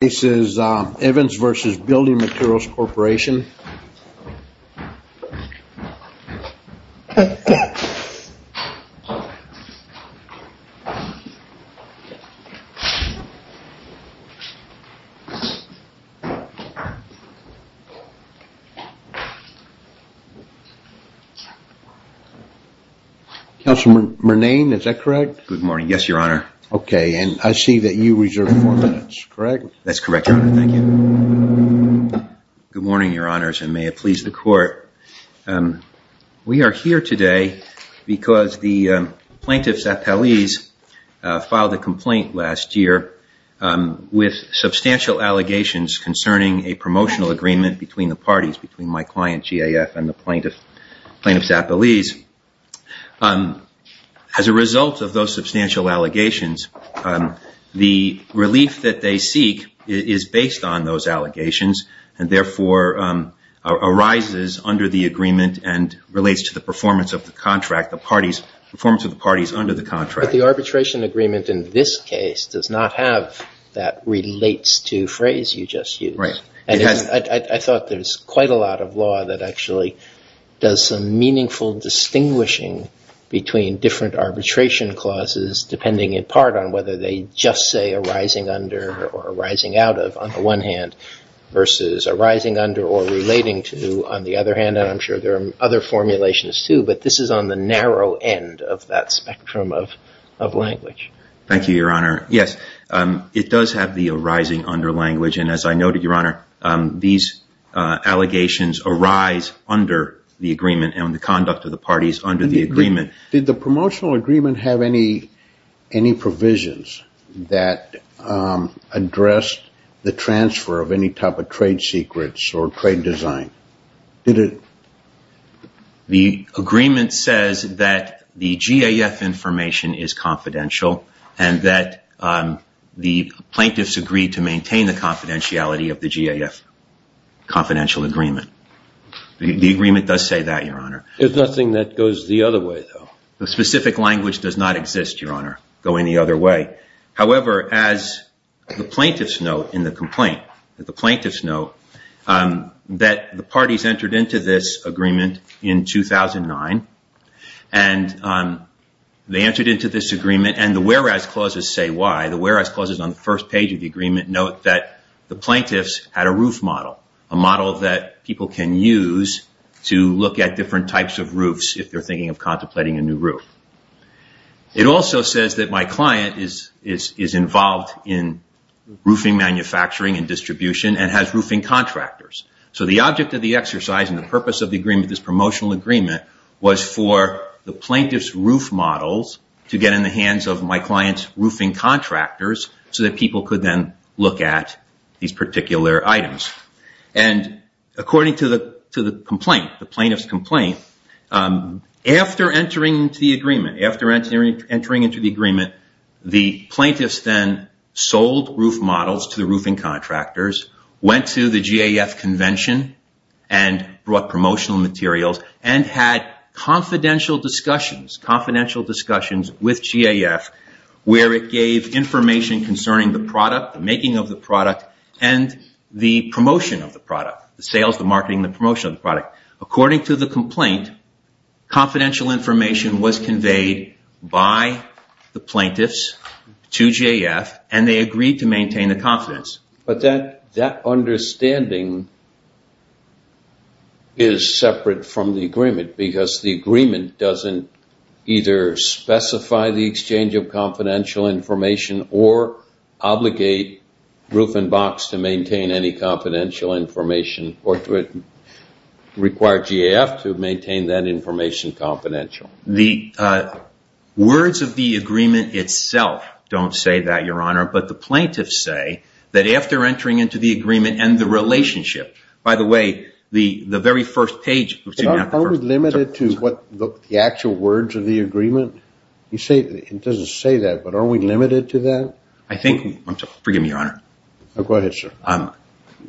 This is Evans v. Building Materials Corporation. Councilor Murnane, is that correct? Good morning, yes your honor. Okay, and I see that you reserved four minutes, correct? That's correct, your honor, thank you. Good morning, your honors, and may it please the court. We are here today because the plaintiff Zappellese filed a complaint last year with substantial allegations concerning a promotional agreement between the parties, between my client GAF and the plaintiff Zappellese. As a result of those substantial allegations, the relief that they seek is based on those allegations and therefore arises under the agreement and relates to the performance of the parties under the contract. But the arbitration agreement in this case does not have that relates to phrase you just used. I thought there was quite a lot of law that actually does some meaningful distinguishing between different arbitration clauses, depending in part on whether they just say arising under or arising out of, on the one hand, versus arising under or relating to, on the other hand, and I'm sure there are other formulations too, but this is on the narrow end of that spectrum of language. Thank you, your honor. Yes, it does have the arising under language and as I noted, your honor, these allegations arise under the agreement and the conduct of the parties under the agreement. Did the promotional agreement have any provisions that addressed the transfer of any type of trade secrets or trade design? The agreement says that the GAF information is confidential and that the plaintiffs agreed to maintain the confidentiality of the GAF confidential agreement. The agreement does say that, your honor. There's nothing that goes the other way, though. The specific language does not exist, your honor, go any other way. However, as the plaintiffs note in the complaint, the plaintiffs note that the parties entered into this agreement in 2009 and they entered into this agreement and the whereas clauses say why. The whereas clauses on the first page of the agreement note that the plaintiffs had a roof model, a model that people can use to look at different types of roofs if they're thinking of contemplating a new roof. It also says that my client is involved in roofing manufacturing and distribution and has roofing contractors. So the object of the exercise and the purpose of the agreement, this promotional agreement, was for the plaintiff's roof models to get in the hands of my client's roofing contractors so that people could then look at these particular items. And according to the complaint, the plaintiff's complaint, after entering into the agreement, the plaintiffs then sold roof models to the roofing contractors, went to the GAF convention, and brought promotional materials, and had confidential discussions with GAF where it gave information concerning the product, the making of the product, and the promotion of the product, the sales, the marketing, the promotion of the product. According to the complaint, confidential information was conveyed by the plaintiffs to GAF and they agreed to maintain the confidence. But that understanding is separate from the agreement because the agreement doesn't either specify the exchange of confidential information or obligate Roof and Box to require GAF to maintain that information confidential. The words of the agreement itself don't say that, Your Honor, but the plaintiffs say that after entering into the agreement and the relationship, by the way, the very first page. Are we limited to the actual words of the agreement? It doesn't say that, but are we limited to that? I think, forgive me, Your Honor. Go ahead, sir.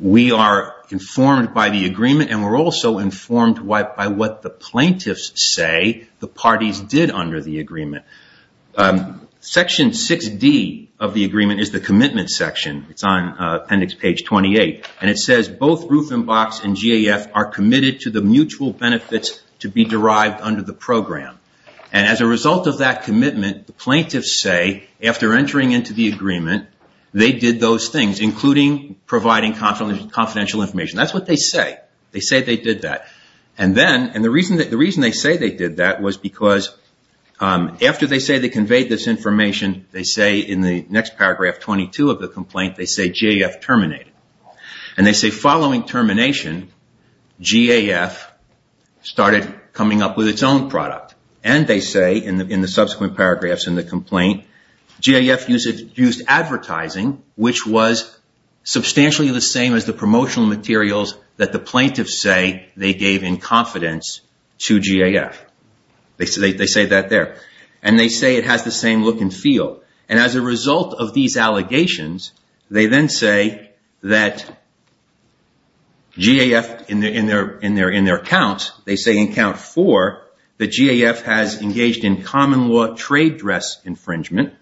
We are informed by the agreement and we're also informed by what the plaintiffs say the parties did under the agreement. Section 6D of the agreement is the commitment section. It's on appendix page 28 and it says both Roof and Box and GAF are committed to the mutual benefits to be derived under the program. As a result of that commitment, the plaintiffs say after entering into the agreement, they did those things, including providing confidential information. That's what they say. They say they did that. The reason they say they did that was because after they say they conveyed this information, they say in the next paragraph, 22 of the complaint, they say GAF terminated. And they say following termination, GAF started coming up with its own product. And they say in the subsequent paragraphs in the complaint, GAF used advertising, which was substantially the same as the promotional materials that the plaintiffs say they gave in confidence to GAF. They say that there. And they say it has the same look and feel. And as a result of these allegations, they then say that GAF in their accounts, they say in count four, that GAF has engaged in common law trade dress infringement,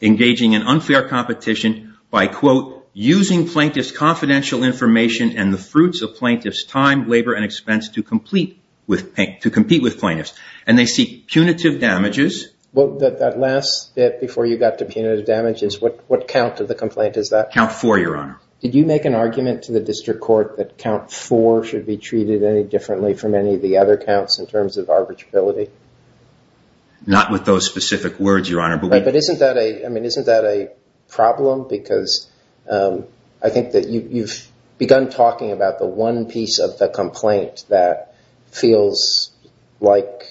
engaging in unfair competition by, quote, using plaintiff's confidential information and the fruits of plaintiff's time, labor, and expense to compete with plaintiffs. And they seek punitive damages. Well, that last bit before you got to punitive damages, what count of the complaint is that? Count four, Your Honor. Did you make an argument to the district court that count four should be treated any of the other counts in terms of arbitrability? Not with those specific words, Your Honor. But isn't that a problem? Because I think that you've begun talking about the one piece of the complaint that feels like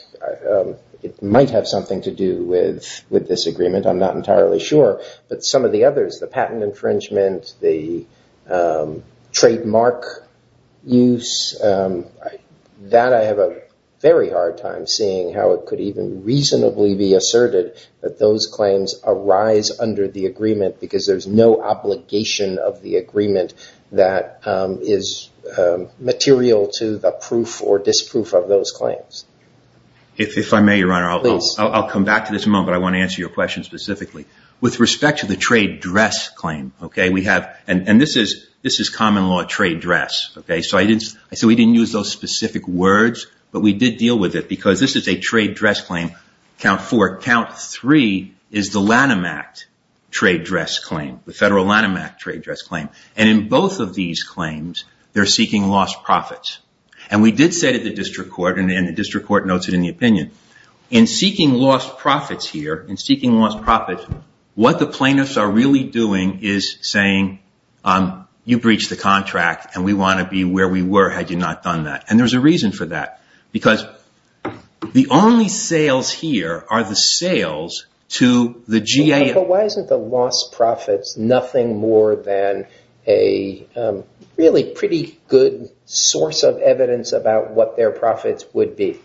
it might have something to do with this agreement. I'm not entirely sure. But some of the others, the patent infringement, the trademark use, that I have a very hard time seeing how it could even reasonably be asserted that those claims arise under the agreement because there's no obligation of the agreement that is material to the proof or disproof of those claims. If I may, Your Honor, I'll come back to this in a moment. I want to answer your question specifically. With respect to the trade dress claim, okay, we have, and this is common law trade dress, okay, so we didn't use those specific words. But we did deal with it because this is a trade dress claim, count four. Count three is the Lanham Act trade dress claim, the federal Lanham Act trade dress claim. And in both of these claims, they're seeking lost profits. And we did say to the district court, and the district court notes it in the opinion, in seeking lost profits here, in seeking lost profits, what the plaintiffs are really doing is saying, you breached the contract, and we want to be where we were had you not done that. And there's a reason for that. Because the only sales here are the sales to the GAO. But why isn't the lost profits nothing more than a really pretty good source of evidence about what their profits would be?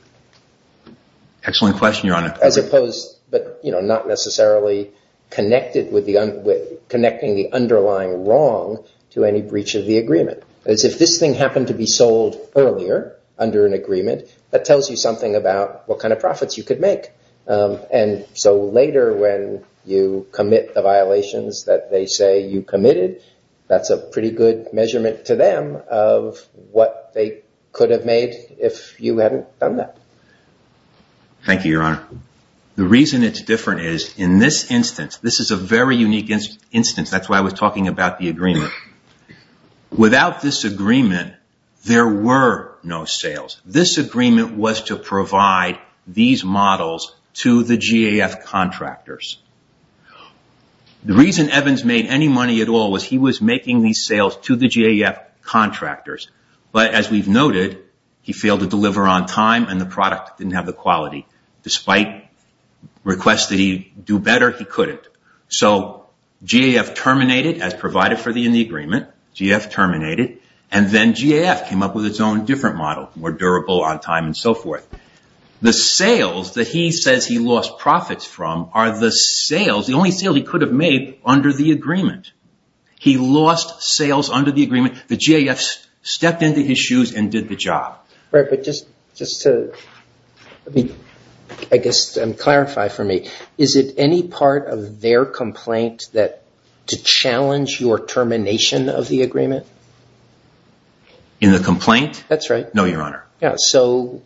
Excellent question, Your Honor. As opposed, but not necessarily connected with connecting the underlying wrong to any breach of the agreement. If this thing happened to be sold earlier under an agreement, that tells you something about what kind of profits you could make. And so later when you commit the violations that they say you committed, that's a pretty good measurement to them of what they could have made if you hadn't done that. Thank you, Your Honor. The reason it's different is, in this instance, this is a very unique instance. That's why I was talking about the agreement. Without this agreement, there were no sales. This agreement was to provide these models to the GAF contractors. The reason Evans made any money at all was he was making these sales to the GAF contractors. But as we've noted, he failed to deliver on time and the product didn't have the quality. Despite requests that he do better, he couldn't. So GAF terminated as provided for in the agreement. GAF terminated and then GAF came up with its own different model, more durable on time and so forth. The sales that he says he lost profits from are the sales, the only sales he could have made under the agreement. He lost sales under the agreement. The GAF stepped into his shoes and did the job. Right, but just to clarify for me, is it any part of their complaint to challenge your termination of the agreement? In the complaint? That's right. No, Your Honor. Yeah, so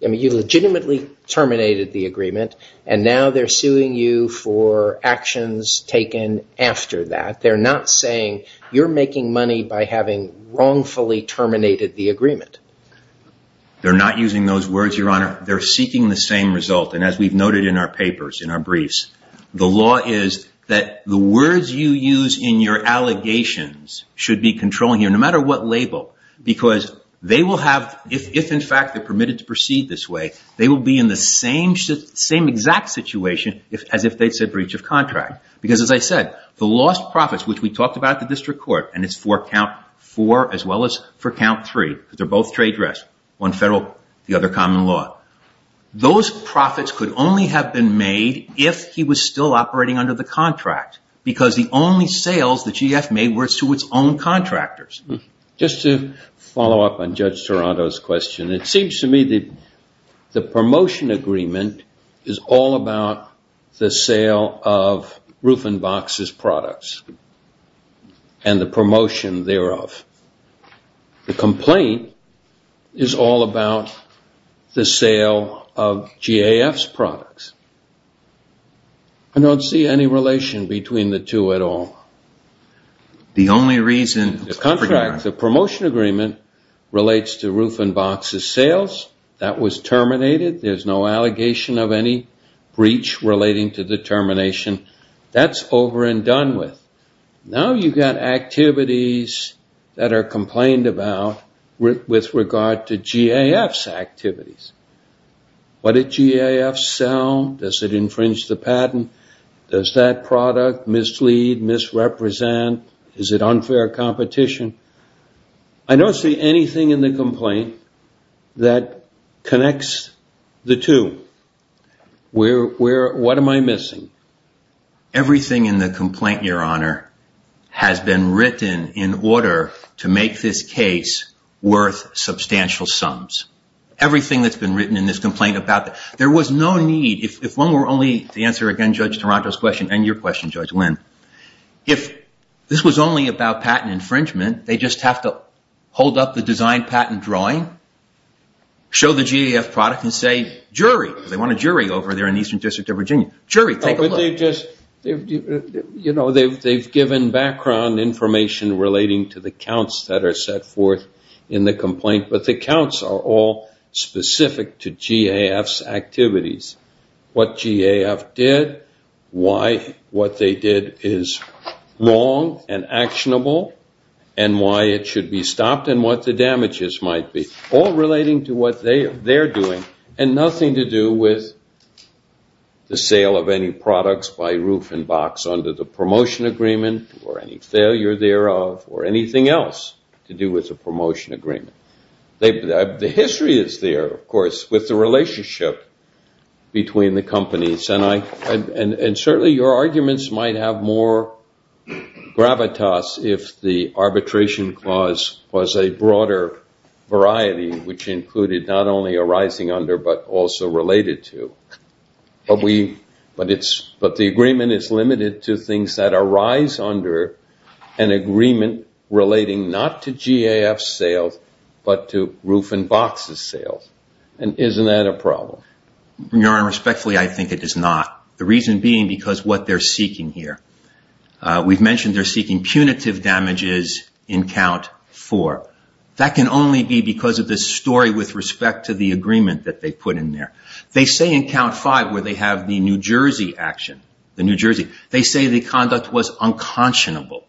you legitimately terminated the agreement and now they're suing you for actions taken after that. They're not saying you're making money by having wrongfully terminated the agreement. They're not using those words, Your Honor. They're seeking the same result. And as we've noted in our papers, in our briefs, the law is that the words you use in your allegations should be controlling you, no matter what label, because they will have, if in fact they're permitted to proceed this way, they will be in the same exact situation as if they said breach of contract. Because as I said, the lost profits, which we talked about the district court, and it's for count four as well as for count three, because they're both trade dress, one federal, the other common law. Those profits could only have been made if he was still operating under the contract, because the only sales the GAF made were to its own contractors. Just to follow up on Judge Toronto's question, it seems to me that the promotion agreement is all about the sale of Rufenbach's products and the promotion thereof. The complaint is all about the sale of GAF's products. I don't see any relation between the two at all. The only reason... The contract, the promotion agreement relates to Rufenbach's sales. That was terminated. There's no allegation of any breach relating to the termination. That's over and done with. Now you've got activities that are complained about with regard to GAF's activities. What did GAF sell? Does it infringe the patent? Does that product mislead, misrepresent? Is it unfair competition? I don't see anything in the complaint that connects the two. What am I missing? Everything in the complaint, Your Honor, has been written in order to make this case worth substantial sums. Everything that's been written in this complaint about... There was no need... If one were only... To answer again Judge Toronto's question and your question, Judge Wynn. If this was only about patent infringement, they just have to hold up the design patent drawing, show the GAF product and say, jury. They want a jury over there in the Eastern District of Virginia. Jury, take a look. You know, they've given background information relating to the counts that are set forth in the complaint. But the counts are all specific to GAF's activities. What GAF did, why what they did is wrong and actionable, and why it should be stopped, and what the damages might be. All relating to what they're doing and nothing to do with the sale of any products by roof and box under the promotion agreement or any failure thereof or anything else to do with the promotion agreement. The history is there, of course, with the relationship between the companies. And certainly your arguments might have more gravitas if the arbitration clause was a broader variety, which included not only arising under, but also related to. But the agreement is limited to things that arise under an agreement relating not to GAF sales, but to roof and boxes sales. And isn't that a problem? Your Honor, respectfully, I think it is not. The reason being because what they're seeking here. We've mentioned they're seeking punitive damages in count four. That can only be because of this story with respect to the agreement that they put in there. They say in count five where they have the New Jersey action, the New Jersey, they say the conduct was unconscionable.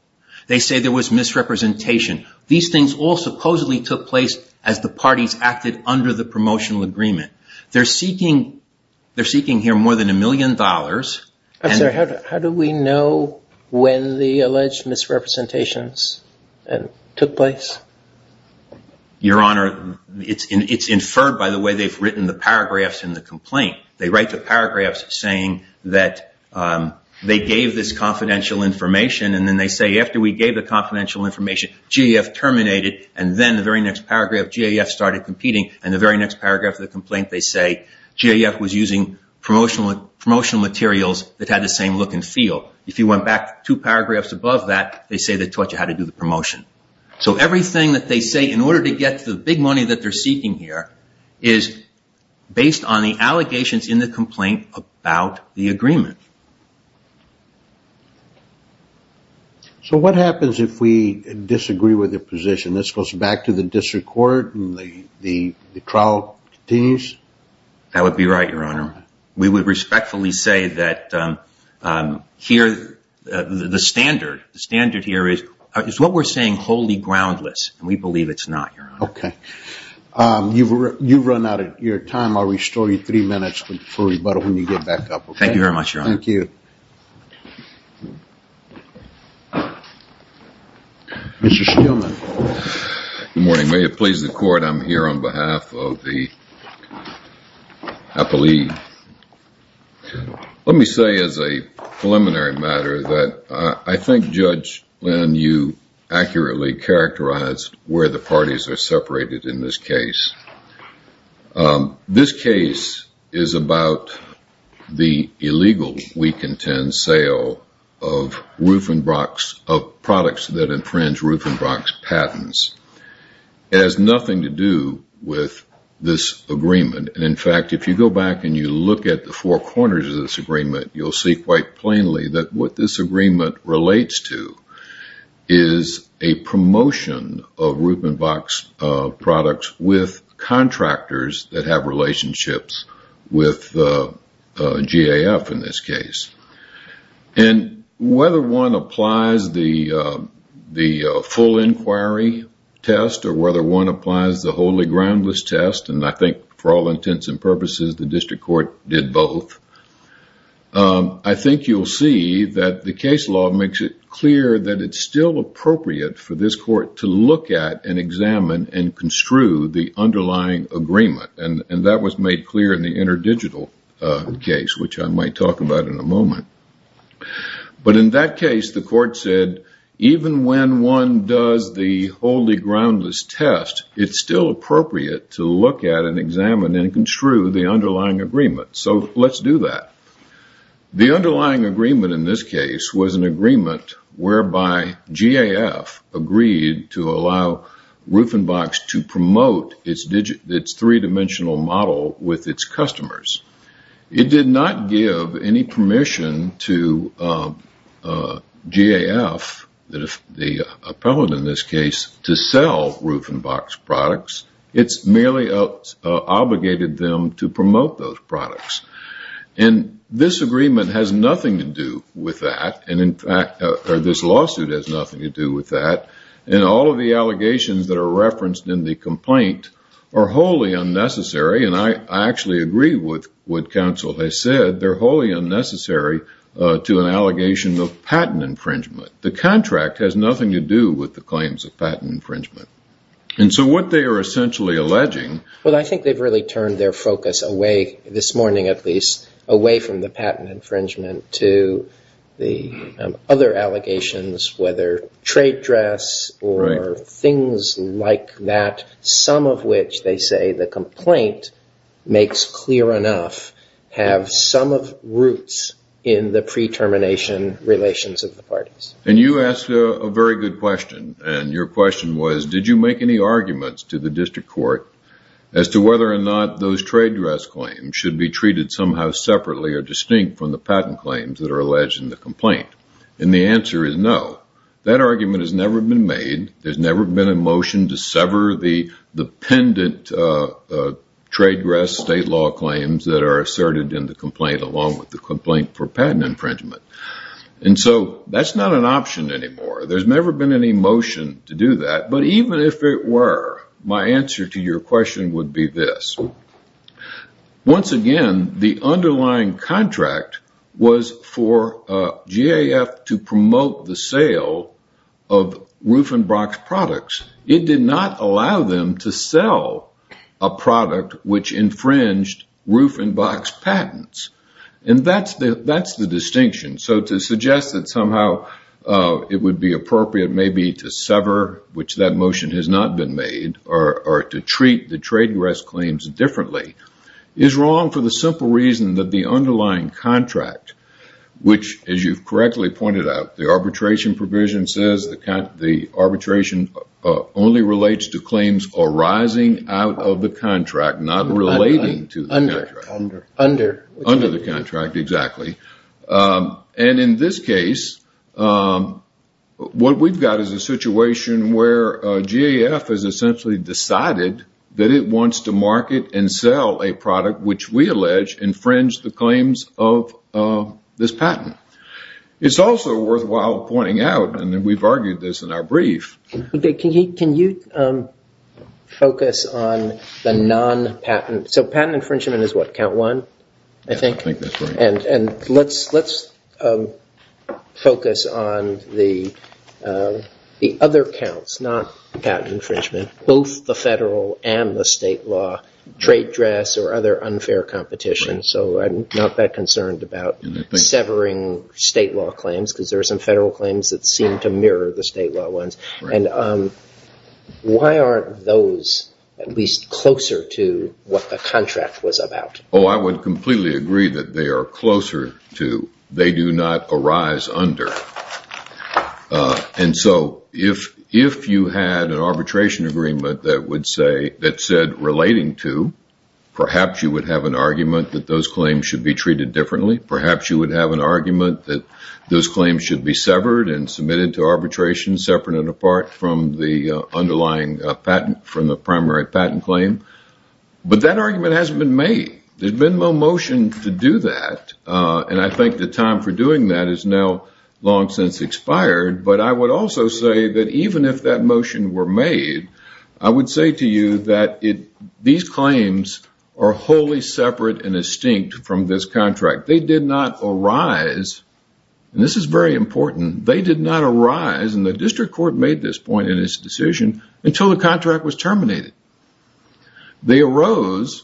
They say there was misrepresentation. These things all supposedly took place as the parties acted under the promotional agreement. They're seeking here more than a million dollars. How do we know when the alleged misrepresentations took place? Your Honor, it's inferred by the way they've written the paragraphs in the complaint. They write the paragraphs saying that they gave this confidential information. And then they say after we gave the confidential information, GAF terminated. And then the very next paragraph, GAF started competing. And the very next paragraph of the complaint, they say GAF was using promotional materials that had the same look and feel. If you went back two paragraphs above that, they say they taught you how to do the promotion. So everything that they say in order to get the big money that they're seeking here is based on the allegations in the complaint about the agreement. So what happens if we disagree with the position? This goes back to the district court and the trial continues? That would be right, Your Honor. We would respectfully say that here the standard, the standard here is what we're saying wholly groundless. And we believe it's not, Your Honor. Okay. You've run out of your time. I'll restore you three minutes for rebuttal when you get back up, okay? Thank you very much, Your Honor. Thank you. Mr. Stillman. Good morning. May it please the court. I'm here on behalf of the Appellee. Let me say as a preliminary matter that I think, Judge Lynn, you accurately characterized where the parties are separated in this case. This case is about the illegal, we contend, sale of Rufenbrock's, of products that infringe Rufenbrock's patents has nothing to do with this agreement. And in fact, if you go back and you look at the four corners of this agreement, you'll see quite plainly that what this agreement relates to is a promotion of Rufenbrock's products with contractors that have relationships with GAF in this case. And whether one applies the full inquiry test or whether one applies the wholly groundless test, and I think for all intents and purposes, the district court did both. I think you'll see that the case law makes it clear that it's still appropriate for this court to look at and examine and construe the underlying agreement. And that was made clear in the interdigital case, which I might talk about in a moment. But in that case, the court said, even when one does the wholly groundless test, it's still appropriate to look at and examine and construe the underlying agreement. So let's do that. The underlying agreement in this case was an agreement whereby GAF agreed to allow Rufenbrock's to promote its three-dimensional model with its customers. It did not give any permission to GAF, the appellate in this case, to sell Rufenbrock's products. It's merely obligated them to promote those products. And this agreement has nothing to do with that. And in fact, this lawsuit has nothing to do with that. And all of the allegations that are referenced in the complaint are wholly unnecessary. And I actually agree with what counsel has said. They're wholly unnecessary to an allegation of patent infringement. The contract has nothing to do with the claims of patent infringement. And so what they are essentially alleging... Well, I think they've really turned their focus away, this morning at least, away from the patent infringement to the other allegations, whether trade dress or things like that, some of which they say the complaint makes clear enough, have some of roots in the pre-termination relations of the parties. And you asked a very good question. And your question was, did you make any arguments to the district court as to whether or not those trade dress claims should be treated somehow separately or distinct from the patent claims that are alleged in the complaint? And the answer is no. That argument has never been made. There's never been a motion to sever the pendant trade dress state law claims that are asserted in the complaint, along with the complaint for patent infringement. And so that's not an option anymore. There's never been any motion to do that. But even if it were, my answer to your question would be this. Once again, the underlying contract was for GAF to promote the sale of Rufenbach's products. It did not allow them to sell a product which infringed Rufenbach's patents. And that's the distinction. So to suggest that somehow it would be appropriate maybe to sever, which that motion has not been made, or to treat the trade dress claims differently, is wrong for the simple reason that the underlying contract, which as you've correctly pointed out, the arbitration provision says the arbitration only relates to claims arising out of the contract, not relating to the contract. Under. Under. Under. Under the contract, exactly. And in this case, what we've got is a situation where GAF has essentially decided that it wants to market and sell a product which we allege infringed the claims of this patent. It's also worthwhile pointing out, and we've argued this in our brief. Can you focus on the non-patent? So patent infringement is what? Count one, I think? I think that's right. And let's focus on the other counts, not patent infringement, both the federal and the state law trade dress or other unfair competition. So I'm not that concerned about severing state law claims because there are some federal claims that seem to mirror the state law ones. And why aren't those at least closer to what the contract was about? Oh, I would completely agree that they are closer to, they do not arise under. And so if you had an arbitration agreement that would say, that said relating to, perhaps you would have an argument that those claims should be treated differently. Perhaps you would have an argument that those claims should be severed and submitted to arbitration, separate and apart from the underlying patent, from the primary patent claim. But that argument hasn't been made. There's been no motion to do that. And I think the time for doing that is now long since expired. But I would also say that even if that motion were made, I would say to you that it, these claims are wholly separate and distinct from this contract. They did not arise. And this is very important. They did not arise. And the district court made this point in his decision until the contract was terminated. They arose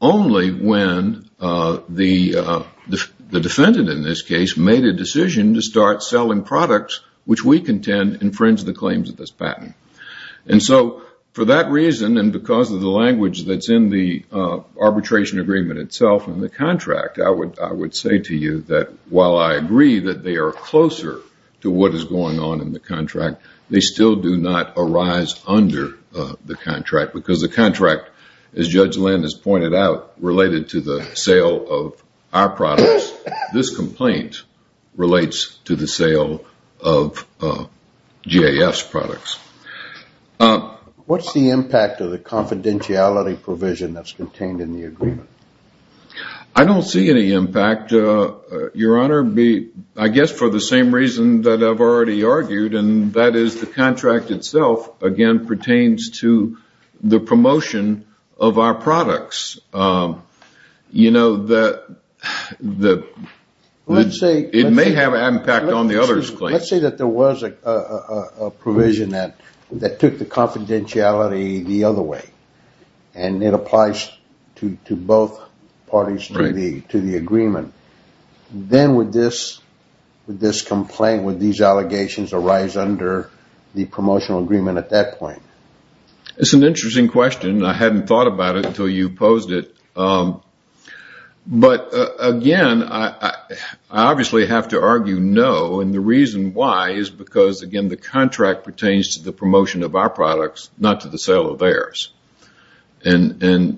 only when the defendant in this case made a decision to start selling products, which we contend infringe the claims of this patent. And so for that reason, and because of the language that's in the arbitration agreement itself and the contract, I would say to you that while I agree that they are closer to what is going on in the contract, they still do not arise under the contract because the contract, as Judge Lynn has pointed out, related to the sale of our products. This complaint relates to the sale of GAF's products. What's the impact of the confidentiality provision that's contained in the agreement? I don't see any impact, Your Honor. I guess for the same reason that I've already argued, and that is the contract itself, again, pertains to the promotion of our products. You know, it may have an impact on the other's claim. Let's say that there was a provision that took the confidentiality the other way, and it applies to both parties to the agreement. Then with this complaint, these allegations arise under the promotional agreement at that point. It's an interesting question. I hadn't thought about it until you posed it. But again, I obviously have to argue no, and the reason why is because, again, the contract pertains to the promotion of our products, not to the sale of theirs.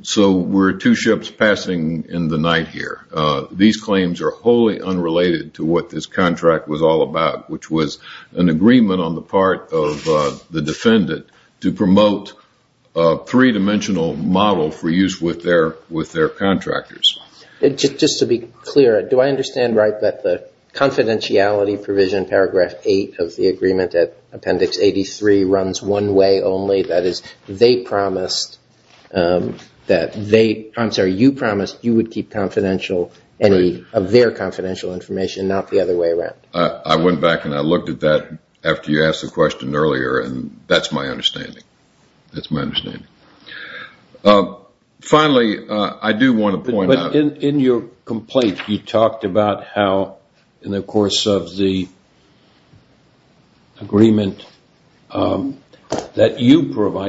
So we're two ships passing in the night here. These claims are wholly unrelated to what this contract was all about. Which was an agreement on the part of the defendant to promote a three-dimensional model for use with their contractors. Just to be clear, do I understand right that the confidentiality provision, paragraph eight of the agreement at appendix 83, runs one way only? That is, they promised that they, I'm sorry, you promised you would keep confidential any of their confidential information, not the other way around. I went back and I looked at that after you asked the question earlier and that's my understanding. That's my understanding. Finally, I do want to point out. But in your complaint, you talked about how in the course of the agreement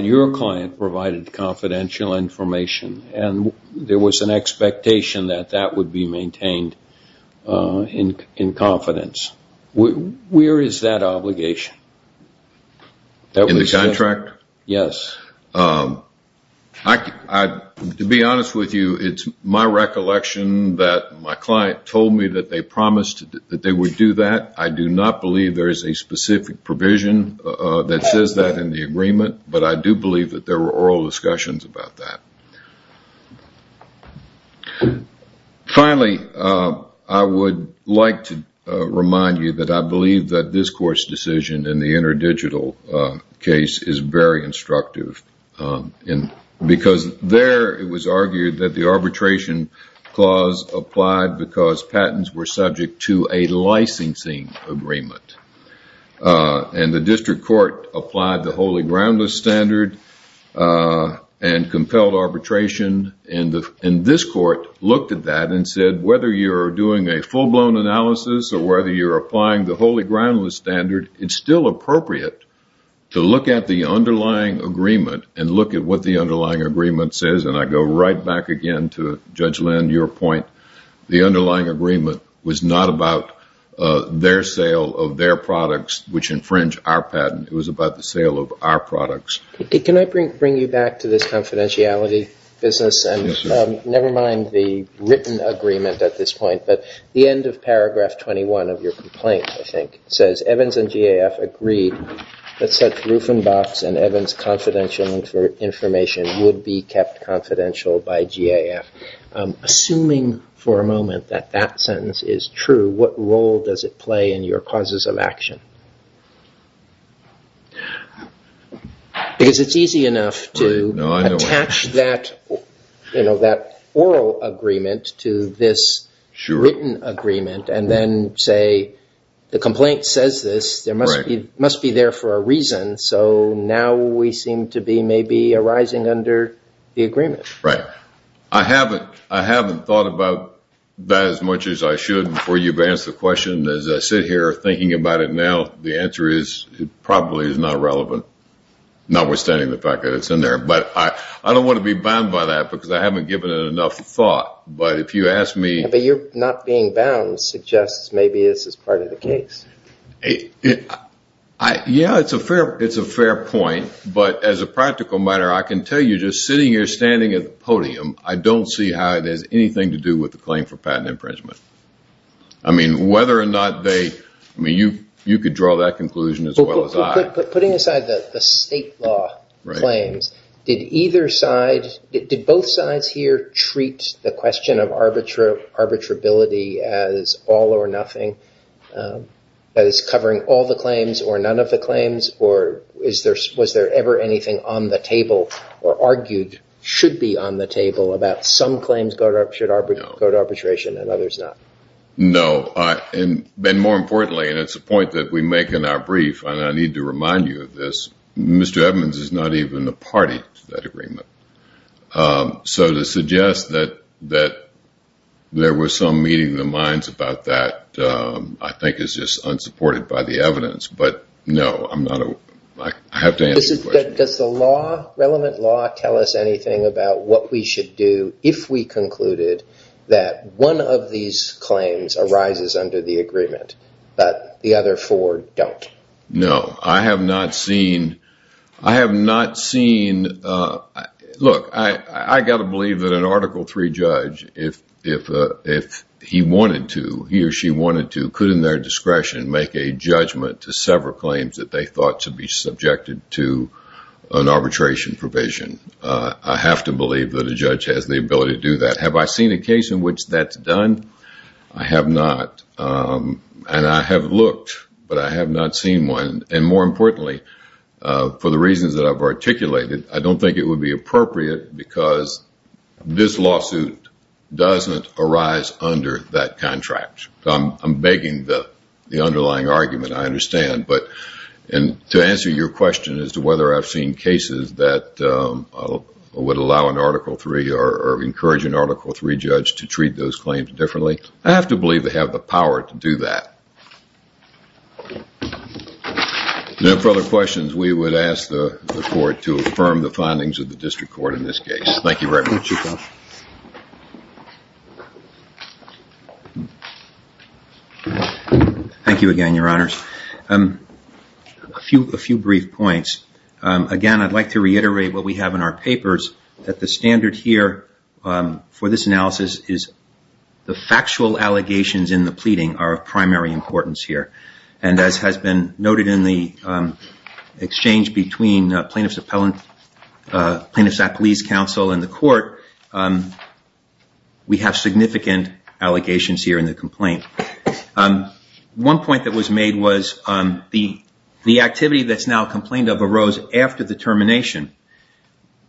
your client provided confidential information and there was an expectation that that would be maintained in confidence. Where is that obligation? In the contract? Yes. To be honest with you, it's my recollection that my client told me that they promised that they would do that. I do not believe there is a specific provision that says that in the agreement. But I do believe that there were oral discussions about that. Finally, I would like to remind you that I believe that this court's decision in the interdigital case is very instructive. And because there it was argued that the arbitration clause applied because patents were subject to a licensing agreement. And the district court applied the holy groundless standard and compelled arbitration and this court looked at that and said whether you're doing a full-blown analysis or whether you're applying the holy groundless standard, it's still appropriate to look at the underlying agreement and look at what the underlying agreement says. And I go right back again to Judge Lynn, your point. The underlying agreement was not about their sale of their products, which infringe our patent. It was about the sale of our products. Can I bring you back to this confidentiality business and never mind the written agreement at this point, but the end of paragraph 21 of your complaint, I think, says Evans and GAF agreed that such roof and box and Evans confidential information would be kept confidential by GAF. Assuming for a moment that that sentence is true, what role does it play in your causes of action? Because it's easy enough to attach that, you know, that oral agreement to this written agreement and then say, the complaint says this, there must be there for a reason. So now we seem to be maybe arising under the agreement. I haven't thought about that as much as I should before you've asked the question. As I sit here thinking about it now, the answer is it probably is not relevant, notwithstanding the fact that it's in there. But I don't want to be bound by that because I haven't given it enough thought. But if you ask me. But you're not being bound suggests maybe this is part of the case. Yeah, it's a fair point. But as a practical matter, I can tell you just sitting here standing at the podium, I don't see how it has anything to do with the claim for patent infringement. I mean, whether or not they, I mean, you could draw that conclusion as well as I. Putting aside the state law claims, did either side, did both sides here treat the question of arbitrability as all or nothing, that is covering all the claims or none of the claims? Or was there ever anything on the table or argued should be on the table about some claims go to arbitration and others not? No, and more importantly, and it's a point that we make in our brief, I need to remind you of this. Mr. Evans is not even the party to that agreement. So to suggest that that. There was some meeting of the minds about that, I think is just unsupported by the evidence. But no, I'm not. I have to answer. Does the law relevant law tell us anything about what we should do if we concluded that one of these claims arises under the agreement, but the other four don't? No, I have not seen. I have not seen. Look, I got to believe that an article three judge, if he wanted to, he or she wanted to could in their discretion make a judgment to several claims that they thought to be subjected to an arbitration provision. I have to believe that a judge has the ability to do that. Have I seen a case in which that's done? I have not. And I have looked, but I have not seen one. And more importantly, for the reasons that I've articulated, I don't think it would be appropriate because this lawsuit doesn't arise under that contract. I'm begging the underlying argument. I understand. But and to answer your question as to whether I've seen cases that would allow an article three or encourage an article three judge to treat those claims differently, I have to believe they have the power to do that. No further questions. We would ask the court to affirm the findings of the district court in this case. Thank you very much. Thank you again, Your Honors. A few brief points. Again, I'd like to reiterate what we have in our papers that the standard here for this analysis is the factual allegations in the pleading are of primary importance here. And as has been noted in the exchange between plaintiff's appellant, plaintiff's appellees counsel in the court, we have significant allegations here in the complaint. One point that was made was the activity that's now complained of arose after the termination.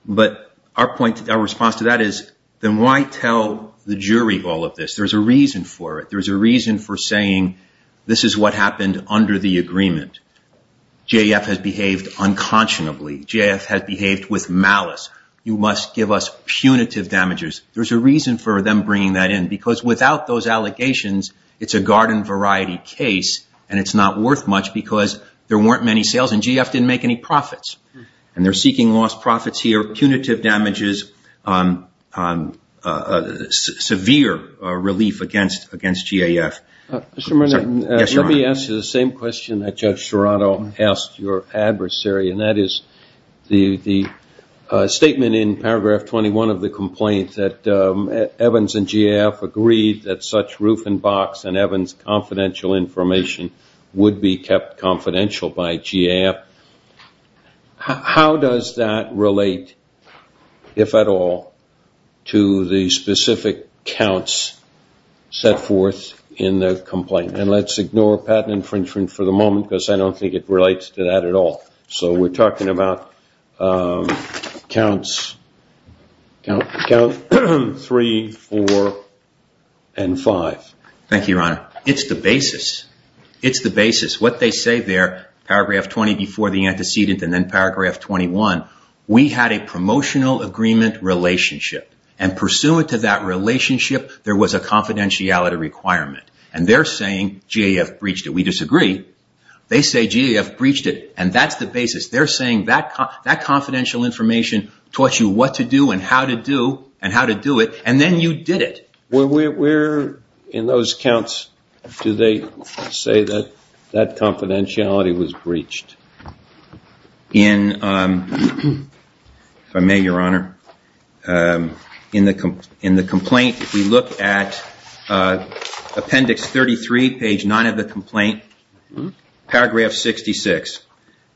But our point, our response to that is, then why tell the jury all of this? There's a reason for it. There's a reason for saying this is what happened under the agreement. GAF has behaved unconscionably. GAF has behaved with malice. You must give us punitive damages. There's a reason for them bringing that in because without those allegations, it's a garden variety case and it's not worth much because there weren't many sales and GAF didn't make any profits. And they're seeking lost profits here, punitive damages, severe relief against GAF. Mr. Mernan, let me ask you the same question that Judge Serrato asked your adversary and that is the statement in paragraph 21 of the complaint that Evans and GAF agreed that such roof and box and Evans' confidential information would be kept confidential by GAF. How does that relate, if at all, to the specific counts set forth in the complaint? And let's ignore patent infringement for the moment because I don't think it relates to that at all. So we're talking about counts three, four, and five. Thank you, Your Honor. It's the basis. It's the basis. What they say there, paragraph 20 before the antecedent and then paragraph 21, we had a promotional agreement relationship and pursuant to that relationship, there was a confidentiality requirement. And they're saying GAF breached it. We disagree. They say GAF breached it and that's the basis. They're saying that confidential information taught you what to do and how to do it and then you did it. Where in those counts do they say that that confidentiality was breached? In, if I may, Your Honor, in the complaint we look at appendix 33, page nine of the complaint, paragraph 66.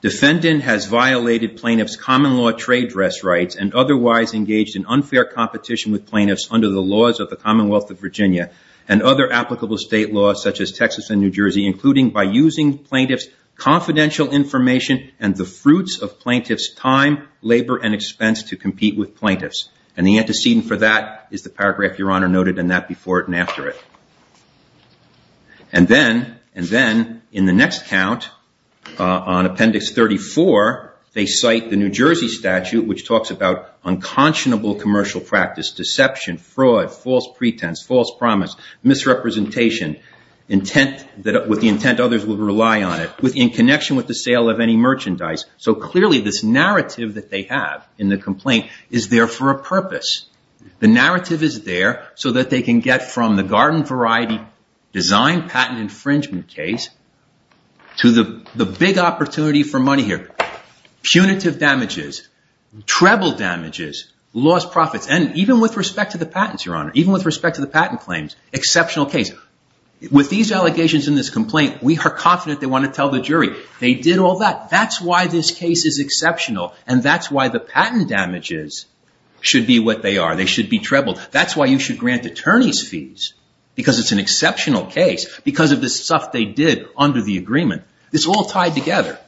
Defendant has violated plaintiff's common law trade dress rights and otherwise engaged in unfair competition with plaintiffs under the laws of the Commonwealth of Virginia and other applicable state laws such as Texas and New Jersey, including by using plaintiff's confidential information and the fruits of plaintiff's time, labor, and expense to compete with plaintiffs. And the antecedent for that is the paragraph Your Honor noted in that before and after it. And then in the next count on appendix 34, they cite the New Jersey statute which talks about unconscionable commercial practice, deception, fraud, false pretense, false promise, misrepresentation, with the intent others would rely on it, in connection with the sale of any merchandise. So clearly this narrative that they have in the complaint is there for a purpose. The narrative is there so that they can get from the garden variety design patent infringement case to the big opportunity for money here. Punitive damages, treble damages, lost profits, and even with respect to the patents Your Honor, even with respect to the patent claims, exceptional case. With these allegations in this complaint, we are confident they want to tell the jury. They did all that. That's why this case is exceptional and that's why the patent damages should be what they are. They should be treble. That's why you should grant attorney's fees because it's an exceptional case because of the stuff they did under the agreement. It's all tied together.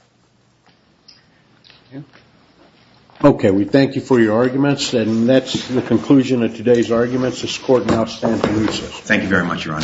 Okay, we thank you for your arguments and that's the conclusion of today's arguments. This court now stands to recess. Thank you very much Your Honor.